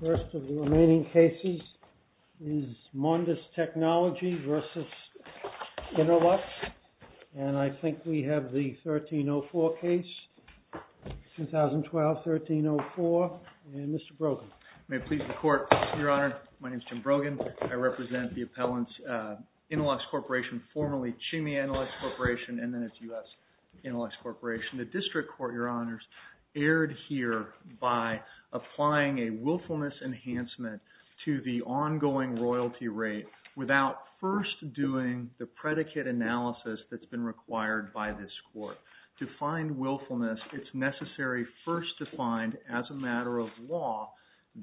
The first of the remaining cases is MONDIS TECH v. INNOLUX and I think we have the 1304 case, 2012-1304. And Mr. Brogan. May it please the Court, Your Honor. My name is Jim Brogan. I represent the appellants, INNOLUX Corporation, formerly CHIMEI INNOLUX Corporation, and then it's U.S. INNOLUX Corporation. The District Court, Your Honors, erred here by applying a willfulness enhancement to the ongoing royalty rate without first doing the predicate analysis that's been required by this Court. To find willfulness, it's necessary first to find, as a matter of law,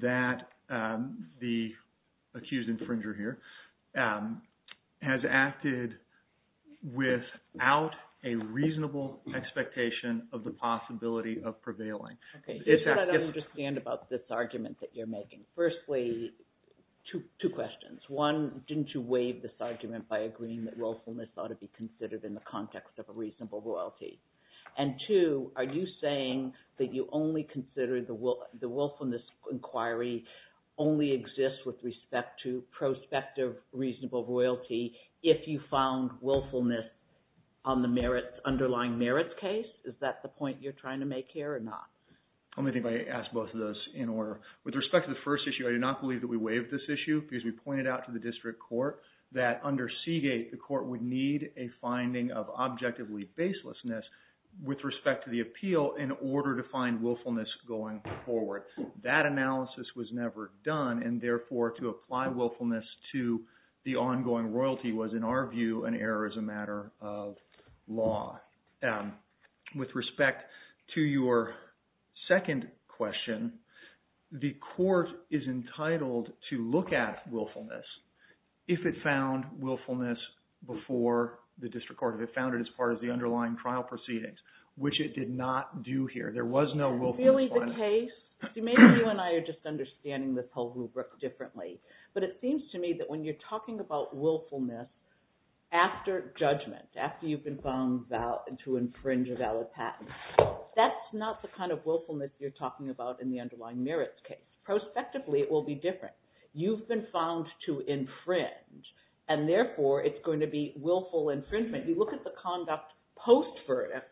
that the accused infringer here has acted without a reasonable expectation of the possibility of prevailing. Okay. Just so I understand about this argument that you're making. Firstly, two questions. One, didn't you waive this argument by agreeing that willfulness ought to be considered in the context of a reasonable royalty? And two, are you saying that you only consider the willfulness inquiry only exists with respect to prospective reasonable royalty if you found willfulness on the merits, underlying merits case? Is that the point you're trying to make here or not? I'm going to ask both of those in order. With respect to the first issue, I do not believe that we waived this issue because we pointed out to the District Court that under Seagate, the court would need a finding of objectively baselessness with respect to the appeal in order to find willfulness going forward. That analysis was never done, and therefore, to apply willfulness to the ongoing royalty was, in our view, an error as a matter of law. With respect to your second question, the court is entitled to look at willfulness if it found willfulness before the District Court, if it found it as part of the underlying trial proceedings, which it did not do here. There was no willfulness finding. Is that really the case? Maybe you and I are just understanding this whole rubric differently. But it seems to me that when you're talking about willfulness after judgment, after you've been found to infringe a valid patent, that's not the kind of willfulness you're talking about in the underlying merits case. Prospectively, it will be different. You've been found to infringe, and therefore, it's going to be willful infringement. You look at the conduct post-verdict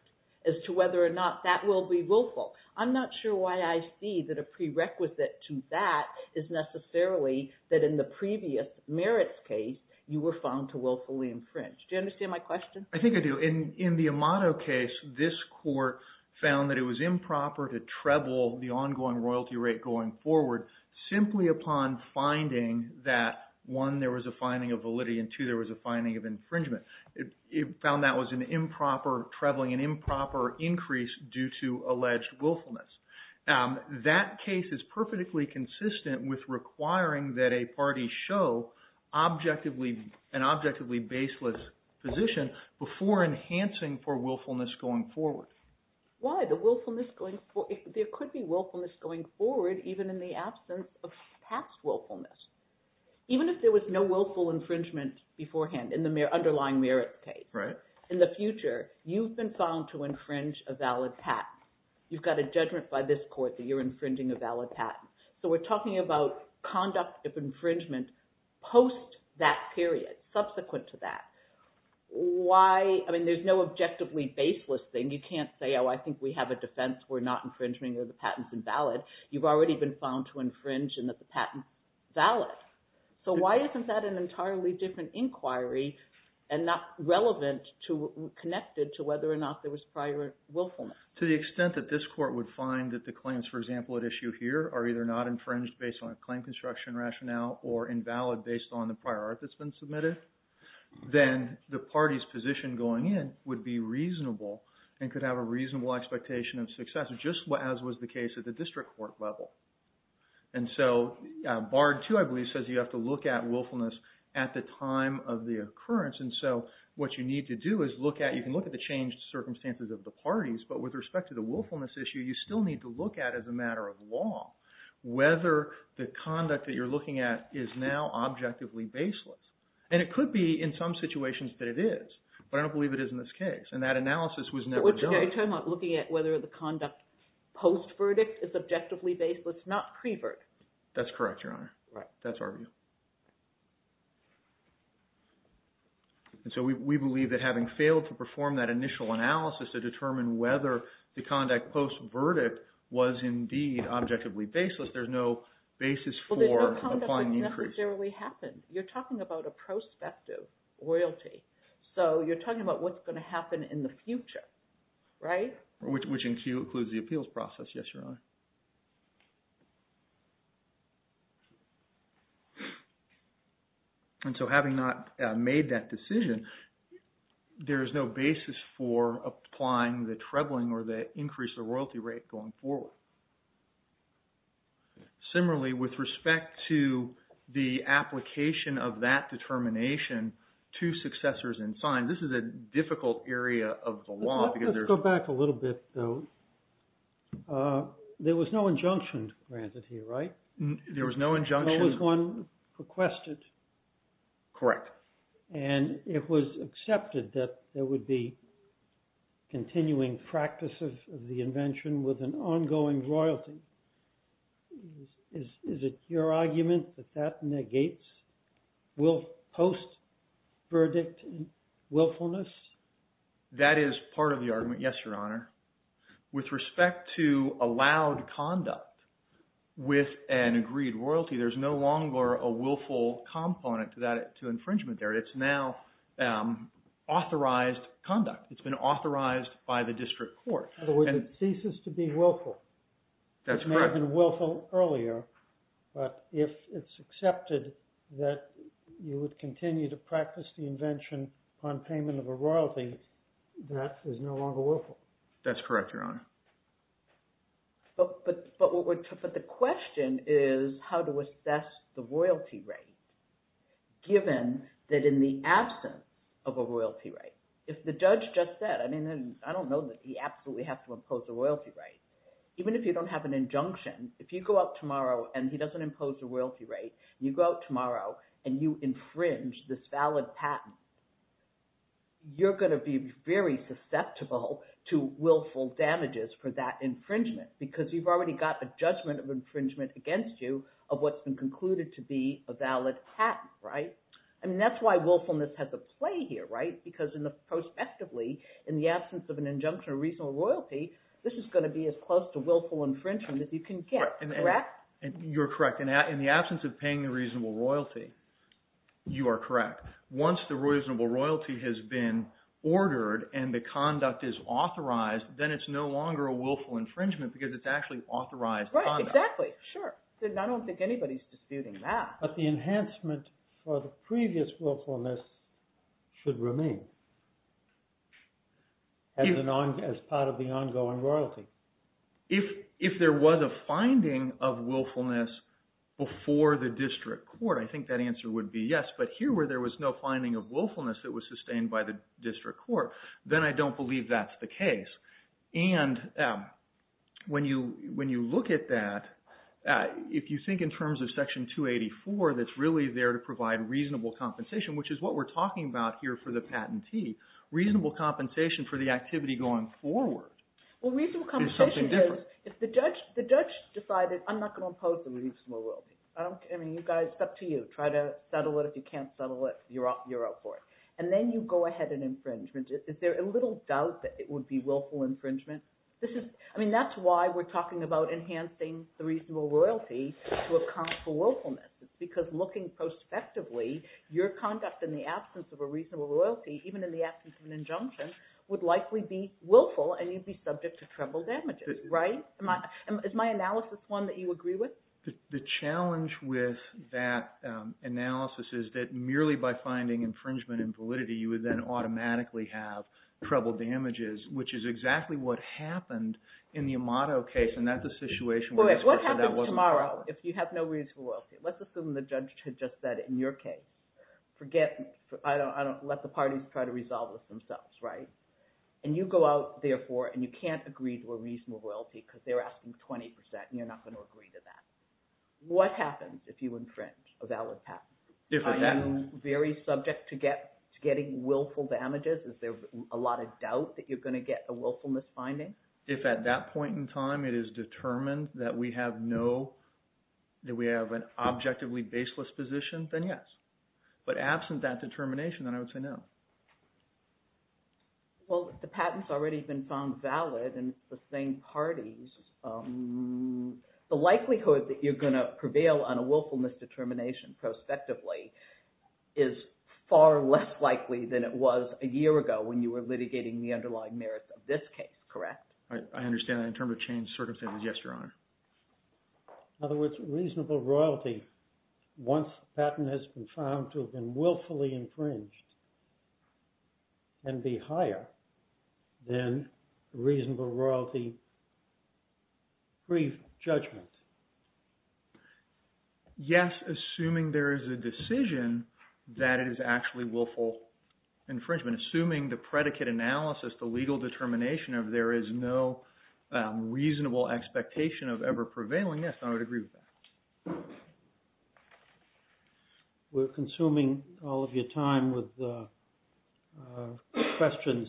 as to whether or not that will be willful. I'm not sure why I see that a prerequisite to that is necessarily that in the previous merits case, you were found to willfully infringe. Do you understand my question? I think I do. In the Amato case, this court found that it was improper to treble the ongoing royalty rate going forward simply upon finding that, one, there was a finding of validity, and two, there was a finding of infringement. It found that was an improper trebling, an improper increase due to alleged willfulness. That case is perfectly consistent with requiring that a party show an objectively baseless position before enhancing for willfulness going forward. Why? There could be willfulness going forward even in the absence of past willfulness. Even if there was no willful infringement beforehand in the underlying merits case, in the future, you've been found to infringe a valid patent. You've got a judgment by this court that you're infringing a valid patent. So we're talking about conduct of infringement post that period, subsequent to that. Why? I mean, there's no objectively baseless thing. You can't say, oh, I think we have a defense. We're not infringing. The patent's invalid. You've already been found to infringe and that the patent's valid. So why isn't that an entirely different inquiry and not relevant to, connected to whether or not there was prior willfulness? To the extent that this court would find that the claims, for example, at issue here are either not infringed based on a claim construction rationale or invalid based on the prior art that's been submitted, then the party's position going in would be reasonable and could have a reasonable expectation of success, just as was the case at the district court level. And so Bard II, I believe, says you have to look at willfulness at the time of the occurrence. And so what you need to do is look at – you can look at the changed circumstances of the parties, but with respect to the willfulness issue, you still need to look at, as a matter of law, whether the conduct that you're looking at is now objectively baseless. And it could be in some situations that it is, but I don't believe it is in this case. And that analysis was never done. I'm talking about looking at whether the conduct post-verdict is objectively baseless, not pre-verdict. That's correct, Your Honor. Right. That's our view. And so we believe that having failed to perform that initial analysis to determine whether the conduct post-verdict was indeed objectively baseless, there's no basis for applying the inquiry. Well, there's no conduct that necessarily happened. You're talking about a prospective royalty. So you're talking about what's going to happen in the future, right? Which includes the appeals process, yes, Your Honor. And so having not made that decision, there is no basis for applying the trebling or the increase of royalty rate going forward. Similarly, with respect to the application of that determination to successors in sign, this is a difficult area of the law. Let's go back a little bit, though. There was no injunction granted here, right? There was no injunction. No one requested. Correct. And it was accepted that there would be continuing practice of the invention with an ongoing royalty. Is it your argument that that negates post-verdict willfulness? That is part of the argument, yes, Your Honor. With respect to allowed conduct with an agreed royalty, there's no longer a willful component to infringement there. It's now authorized conduct. It's been authorized by the district court. In other words, it ceases to be willful. That's correct. It may have been willful earlier, but if it's accepted that you would continue to practice the invention on payment of a royalty, that is no longer willful. That's correct, Your Honor. But the question is how to assess the royalty rate, given that in the absence of a royalty right, if the judge just said, I mean, I don't know that he absolutely has to impose a royalty right. damages for that infringement because you've already got a judgment of infringement against you of what's been concluded to be a valid patent, right? I mean, that's why willfulness has a play here, right? Because prospectively, in the absence of an injunction of reasonable royalty, this is going to be as close to willful infringement as you can get, correct? You're correct. In the absence of paying the reasonable royalty, you are correct. Once the reasonable royalty has been ordered and the conduct is authorized, then it's no longer a willful infringement because it's actually authorized conduct. Right, exactly. Sure. I don't think anybody's disputing that. But the enhancement for the previous willfulness should remain as part of the ongoing royalty. If there was a finding of willfulness before the district court, I think that answer would be yes. But here where there was no finding of willfulness that was sustained by the district court, then I don't believe that's the case. And when you look at that, if you think in terms of Section 284 that's really there to provide reasonable compensation, which is what we're talking about here for the patentee, reasonable compensation for the activity going forward. Well, reasonable compensation is if the judge decided, I'm not going to impose the reasonable royalty. I mean, it's up to you. Try to settle it. If you can't settle it, you're out for it. And then you go ahead and infringement. Is there a little doubt that it would be willful infringement? I mean, that's why we're talking about enhancing the reasonable royalty to account for willfulness. It's because looking prospectively, your conduct in the absence of a reasonable royalty, even in the absence of an injunction, would likely be willful, and you'd be subject to treble damages, right? Is my analysis one that you agree with? The challenge with that analysis is that merely by finding infringement and validity, you would then automatically have treble damages, which is exactly what happened in the Amato case. And that's a situation where this person wasn't willing. So tomorrow, if you have no reasonable royalty, let's assume the judge had just said in your case, forget me. I don't let the parties try to resolve this themselves, right? And you go out, therefore, and you can't agree to a reasonable royalty because they're asking 20%, and you're not going to agree to that. What happens if you infringe a valid patent? Are you very subject to getting willful damages? Is there a lot of doubt that you're going to get a willfulness finding? If at that point in time it is determined that we have no – that we have an objectively baseless position, then yes. But absent that determination, then I would say no. Well, the patent's already been found valid, and it's the same parties. The likelihood that you're going to prevail on a willfulness determination prospectively is far less likely than it was a year ago when you were litigating the underlying merits of this case, correct? I understand that. In terms of changed circumstances, yes, Your Honor. In other words, reasonable royalty, once the patent has been found to have been willfully infringed, can be higher than reasonable royalty pre-judgment. Yes, assuming there is a decision that it is actually willful infringement. Assuming the predicate analysis, the legal determination of there is no reasonable expectation of ever prevailing, yes, I would agree with that. We're consuming all of your time with questions.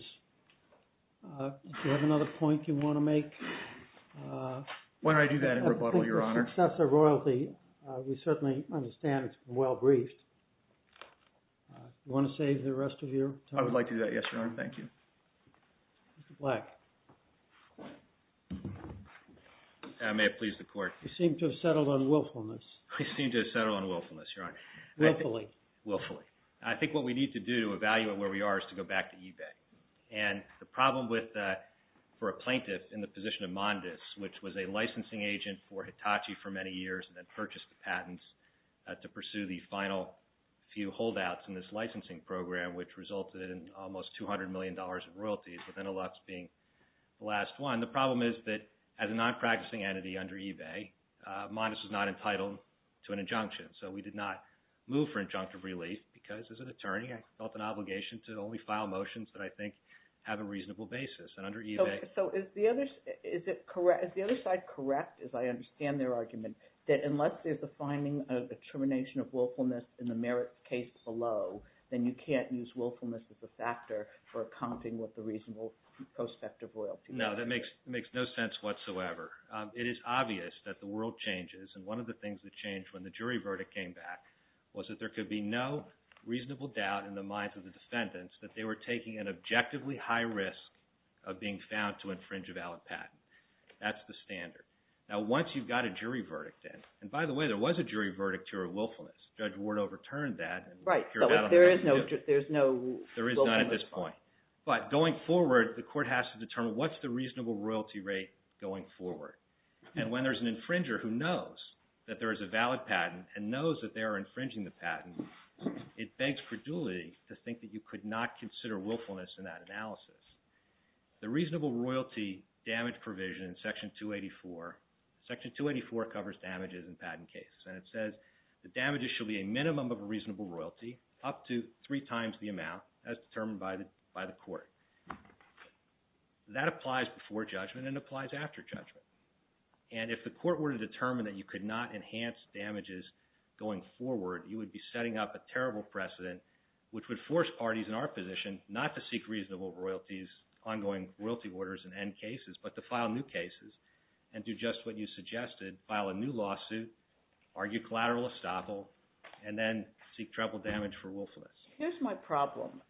Do you have another point you want to make? Why don't I do that in rebuttal, Your Honor? Successor royalty, we certainly understand it's well briefed. Do you want to save the rest of your time? I would like to do that, yes, Your Honor. Thank you. Mr. Black. May it please the Court. You seem to have settled on willfulness. I seem to have settled on willfulness, Your Honor. Willfully. Willfully. I think what we need to do to evaluate where we are is to go back to eBay. The problem for a plaintiff in the position of Mondes, which was a licensing agent for Hitachi for many years, and then purchased the patents to pursue the final few holdouts in this licensing program, which resulted in almost $200 million in royalties, with Enelux being the last one. The problem is that as a non-practicing entity under eBay, Mondes was not entitled to an injunction. So we did not move for injunctive relief because as an attorney, I felt an obligation to only file motions that I think have a reasonable basis. So is the other side correct, as I understand their argument, that unless there's a finding of the termination of willfulness in the merit case below, then you can't use willfulness as a factor for accounting with the reasonable prospect of royalty? No, that makes no sense whatsoever. It is obvious that the world changes, and one of the things that changed when the jury verdict came back was that there could be no reasonable doubt in the minds of the defendants that they were taking an objectively high risk of being found to infringe a valid patent. That's the standard. Now once you've got a jury verdict in, and by the way, there was a jury verdict here of willfulness. Judge Ward overturned that. Right, but there is no willfulness. There is not at this point. But going forward, the court has to determine what's the reasonable royalty rate going forward. And when there's an infringer who knows that there is a valid patent and knows that they are infringing the patent, it begs for duly to think that you could not consider willfulness in that analysis. The reasonable royalty damage provision in Section 284, Section 284 covers damages in patent cases, and it says the damages should be a minimum of a reasonable royalty up to three times the amount as determined by the court. That applies before judgment and applies after judgment. And if the court were to determine that you could not enhance damages going forward, you would be setting up a terrible precedent which would force parties in our position not to seek reasonable royalties, ongoing royalty orders in end cases, but to file new cases and do just what you suggested, file a new lawsuit, argue collateral estoppel, and then seek treble damage for willfulness. Here's my problem.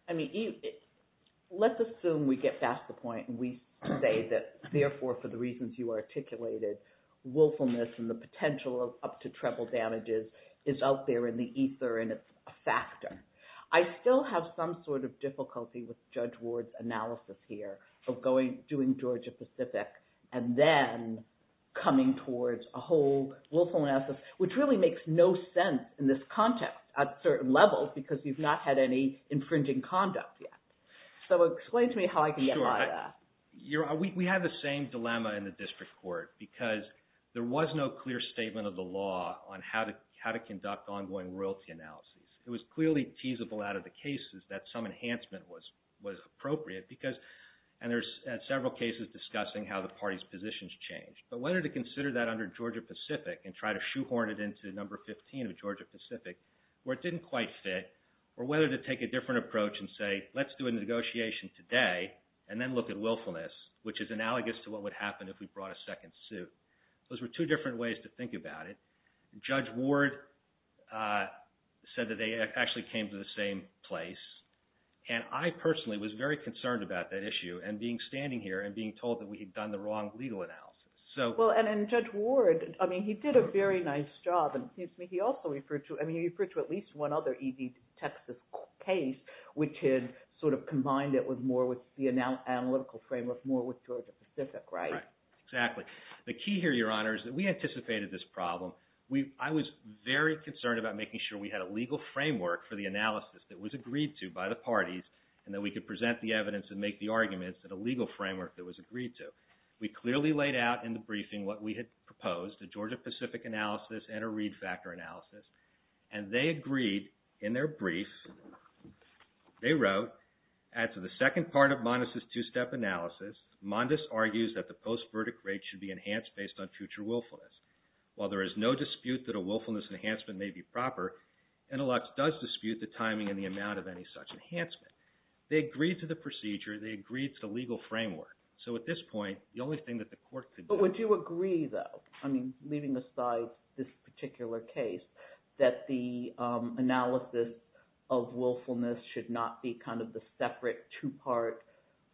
Let's assume we get past the point and we say that, therefore, for the reasons you articulated, willfulness and the potential of up to treble damages is out there in the ether and it's a factor. I still have some sort of difficulty with Judge Ward's analysis here of doing Georgia-Pacific and then coming towards a whole willfulness, which really makes no sense in this context at certain levels because you've not had any infringing conduct yet. So explain to me how I can get by that. We have the same dilemma in the district court because there was no clear statement of the law on how to conduct ongoing royalty analysis. It was clearly teasable out of the cases that some enhancement was appropriate and there's several cases discussing how the parties' positions changed. But whether to consider that under Georgia-Pacific and try to shoehorn it into number 15 of Georgia-Pacific where it didn't quite fit or whether to take a different approach and say, let's do a negotiation today and then look at willfulness, which is analogous to what would happen if we brought a second suit. Those were two different ways to think about it. Judge Ward said that they actually came to the same place, and I personally was very concerned about that issue and being standing here and being told that we had done the wrong legal analysis. Well, and Judge Ward, I mean, he did a very nice job. He also referred to at least one other E.D. Texas case, which had sort of combined it with the analytical framework more with Georgia-Pacific, right? Exactly. The key here, Your Honor, is that we anticipated this problem. I was very concerned about making sure we had a legal framework for the analysis that was agreed to by the parties and that we could present the evidence and make the arguments in a legal framework that was agreed to. We clearly laid out in the briefing what we had proposed, a Georgia-Pacific analysis and a Reed factor analysis, and they agreed in their brief, they wrote, add to the second part of Mondes' two-step analysis, Mondes argues that the post-verdict rate should be enhanced based on future willfulness. While there is no dispute that a willfulness enhancement may be proper, Enelux does dispute the timing and the amount of any such enhancement. They agreed to the procedure. They agreed to the legal framework. So at this point, the only thing that the court could do— But would you agree, though, I mean, leaving aside this particular case, that the analysis of willfulness should not be kind of the separate two-part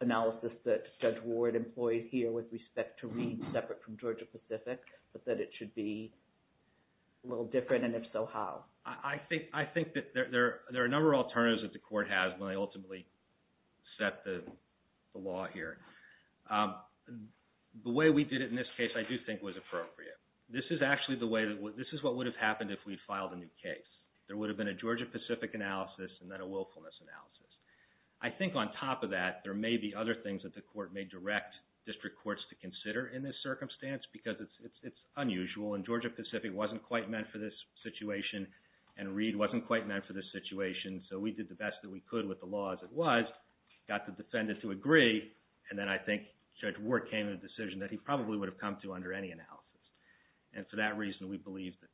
analysis that Judge Ward employed here with respect to Reed separate from Georgia-Pacific, but that it should be a little different, and if so, how? I think that there are a number of alternatives that the court has when they ultimately set the law here. The way we did it in this case I do think was appropriate. This is actually the way—this is what would have happened if we had filed a new case. There would have been a Georgia-Pacific analysis and then a willfulness analysis. I think on top of that, there may be other things that the court may direct district courts to consider in this circumstance because it's unusual, and Georgia-Pacific wasn't quite meant for this situation, and Reed wasn't quite meant for this situation, so we did the best that we could with the law as it was, got the defendant to agree, and then I think Judge Ward came to the decision that he probably would have come to under any analysis. And for that reason, we believe that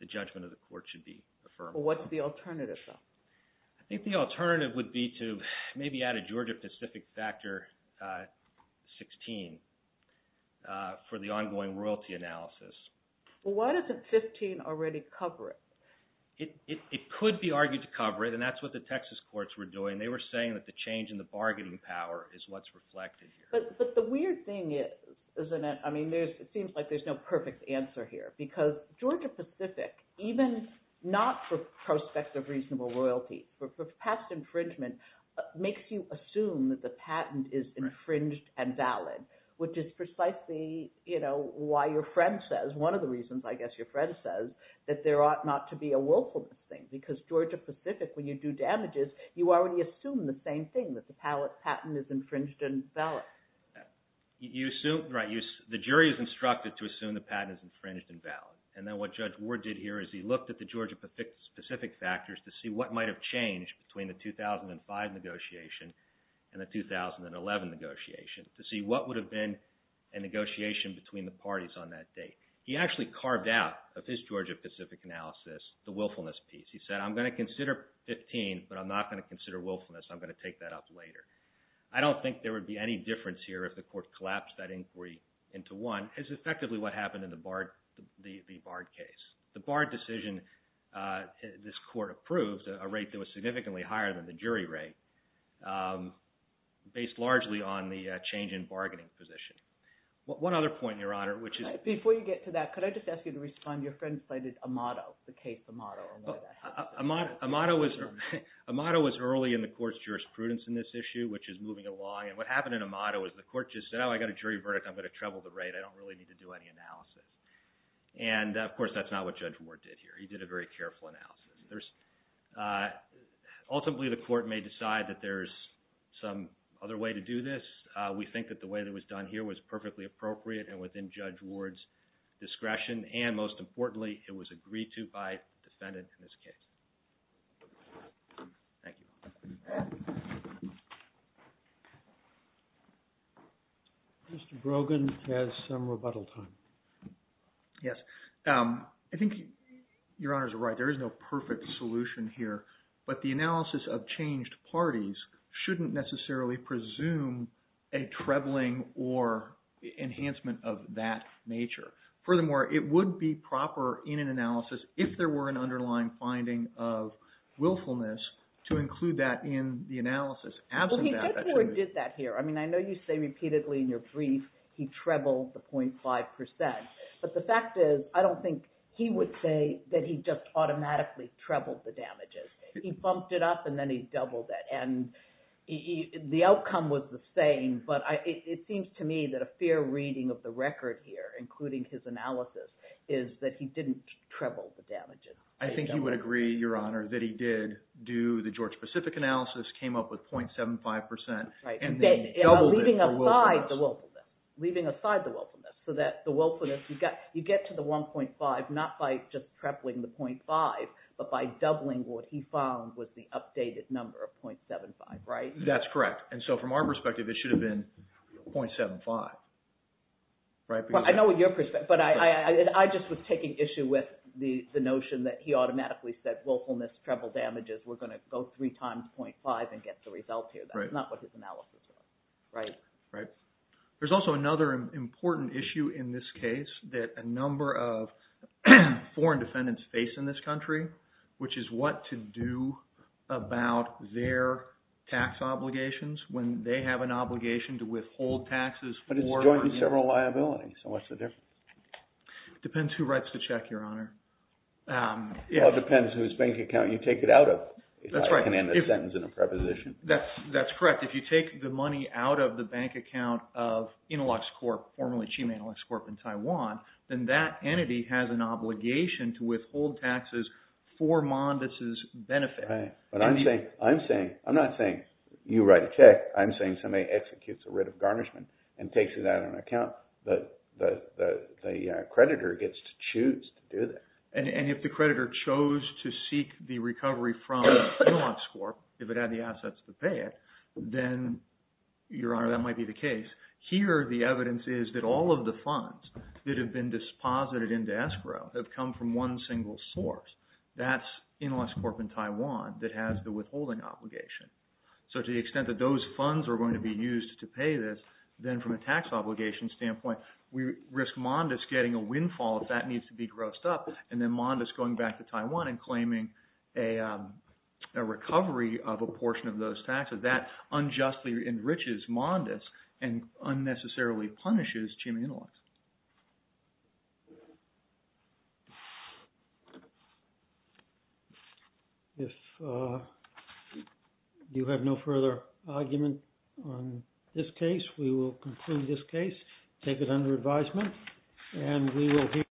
the judgment of the court should be affirmed. Well, what's the alternative, though? I think the alternative would be to maybe add a Georgia-Pacific factor 16 for the ongoing royalty analysis. Well, why doesn't 15 already cover it? It could be argued to cover it, and that's what the Texas courts were doing. They were saying that the change in the bargaining power is what's reflected here. But the weird thing is, isn't it? I mean, it seems like there's no perfect answer here because Georgia-Pacific, even not for prospective reasonable royalty, for past infringement, makes you assume that the patent is infringed and valid, which is precisely why your friend says— because Georgia-Pacific, when you do damages, you already assume the same thing, that the patent is infringed and valid. Right. The jury is instructed to assume the patent is infringed and valid. And then what Judge Ward did here is he looked at the Georgia-Pacific factors to see what might have changed between the 2005 negotiation and the 2011 negotiation to see what would have been a negotiation between the parties on that date. He actually carved out of his Georgia-Pacific analysis the willfulness piece. He said, I'm going to consider 15, but I'm not going to consider willfulness. I'm going to take that up later. I don't think there would be any difference here if the court collapsed that inquiry into one. It's effectively what happened in the Bard case. The Bard decision, this court approved, a rate that was significantly higher than the jury rate, based largely on the change in bargaining position. One other point, Your Honor, which is— Before you get to that, could I just ask you to respond? Your friend cited Amato, the case Amato. Amato was early in the court's jurisprudence in this issue, which is moving along. And what happened in Amato is the court just said, oh, I got a jury verdict. I'm going to treble the rate. I don't really need to do any analysis. And, of course, that's not what Judge Ward did here. He did a very careful analysis. Ultimately, the court may decide that there's some other way to do this. We think that the way that it was done here was perfectly appropriate and within Judge Ward's discretion. And, most importantly, it was agreed to by the defendant in this case. Thank you. Mr. Brogan has some rebuttal time. Yes. I think Your Honors are right. There is no perfect solution here. But the analysis of changed parties shouldn't necessarily presume a trebling or enhancement of that nature. Furthermore, it would be proper in an analysis, if there were an underlying finding of willfulness, to include that in the analysis. Well, Judge Ward did that here. I mean, I know you say repeatedly in your brief he trebled the 0.5%. But the fact is I don't think he would say that he just automatically trebled the damages. He bumped it up, and then he doubled it. And the outcome was the same. But it seems to me that a fair reading of the record here, including his analysis, is that he didn't treble the damages. I think you would agree, Your Honor, that he did do the George Pacific analysis, came up with 0.75%, and then doubled it for willfulness. Leaving aside the willfulness, so that the willfulness – you get to the 1.5 not by just trebling the 0.5, but by doubling what he found was the updated number of 0.75, right? That's correct. And so from our perspective, it should have been 0.75. I know what your – but I just was taking issue with the notion that he automatically said willfulness, treble damages, we're going to go three times 0.5 and get the result here. That's not what his analysis was, right? Right. There's also another important issue in this case that a number of foreign defendants face in this country, which is what to do about their tax obligations when they have an obligation to withhold taxes for – But it's jointly several liabilities, so what's the difference? Depends who writes the check, Your Honor. Well, it depends whose bank account you take it out of. That's right. If I can end the sentence in a preposition. That's correct. If you take the money out of the bank account of Inilox Corp., formerly Chima Inilox Corp. in Taiwan, then that entity has an obligation to withhold taxes for Mondis' benefit. Right, but I'm saying – I'm not saying you write a check. I'm saying somebody executes a writ of garnishment and takes it out of an account. The creditor gets to choose to do that. And if the creditor chose to seek the recovery from Inilox Corp., if it had the assets to pay it, then, Your Honor, that might be the case. Here the evidence is that all of the funds that have been disposited into escrow have come from one single source. That's Inilox Corp. in Taiwan that has the withholding obligation. So to the extent that those funds are going to be used to pay this, then from a tax obligation standpoint, we risk Mondis getting a windfall if that needs to be grossed up, and then Mondis going back to Taiwan and claiming a recovery of a portion of those taxes. That unjustly enriches Mondis and unnecessarily punishes Chima Inilox. If you have no further argument on this case, we will conclude this case, take it under advisement, and we will hear from you.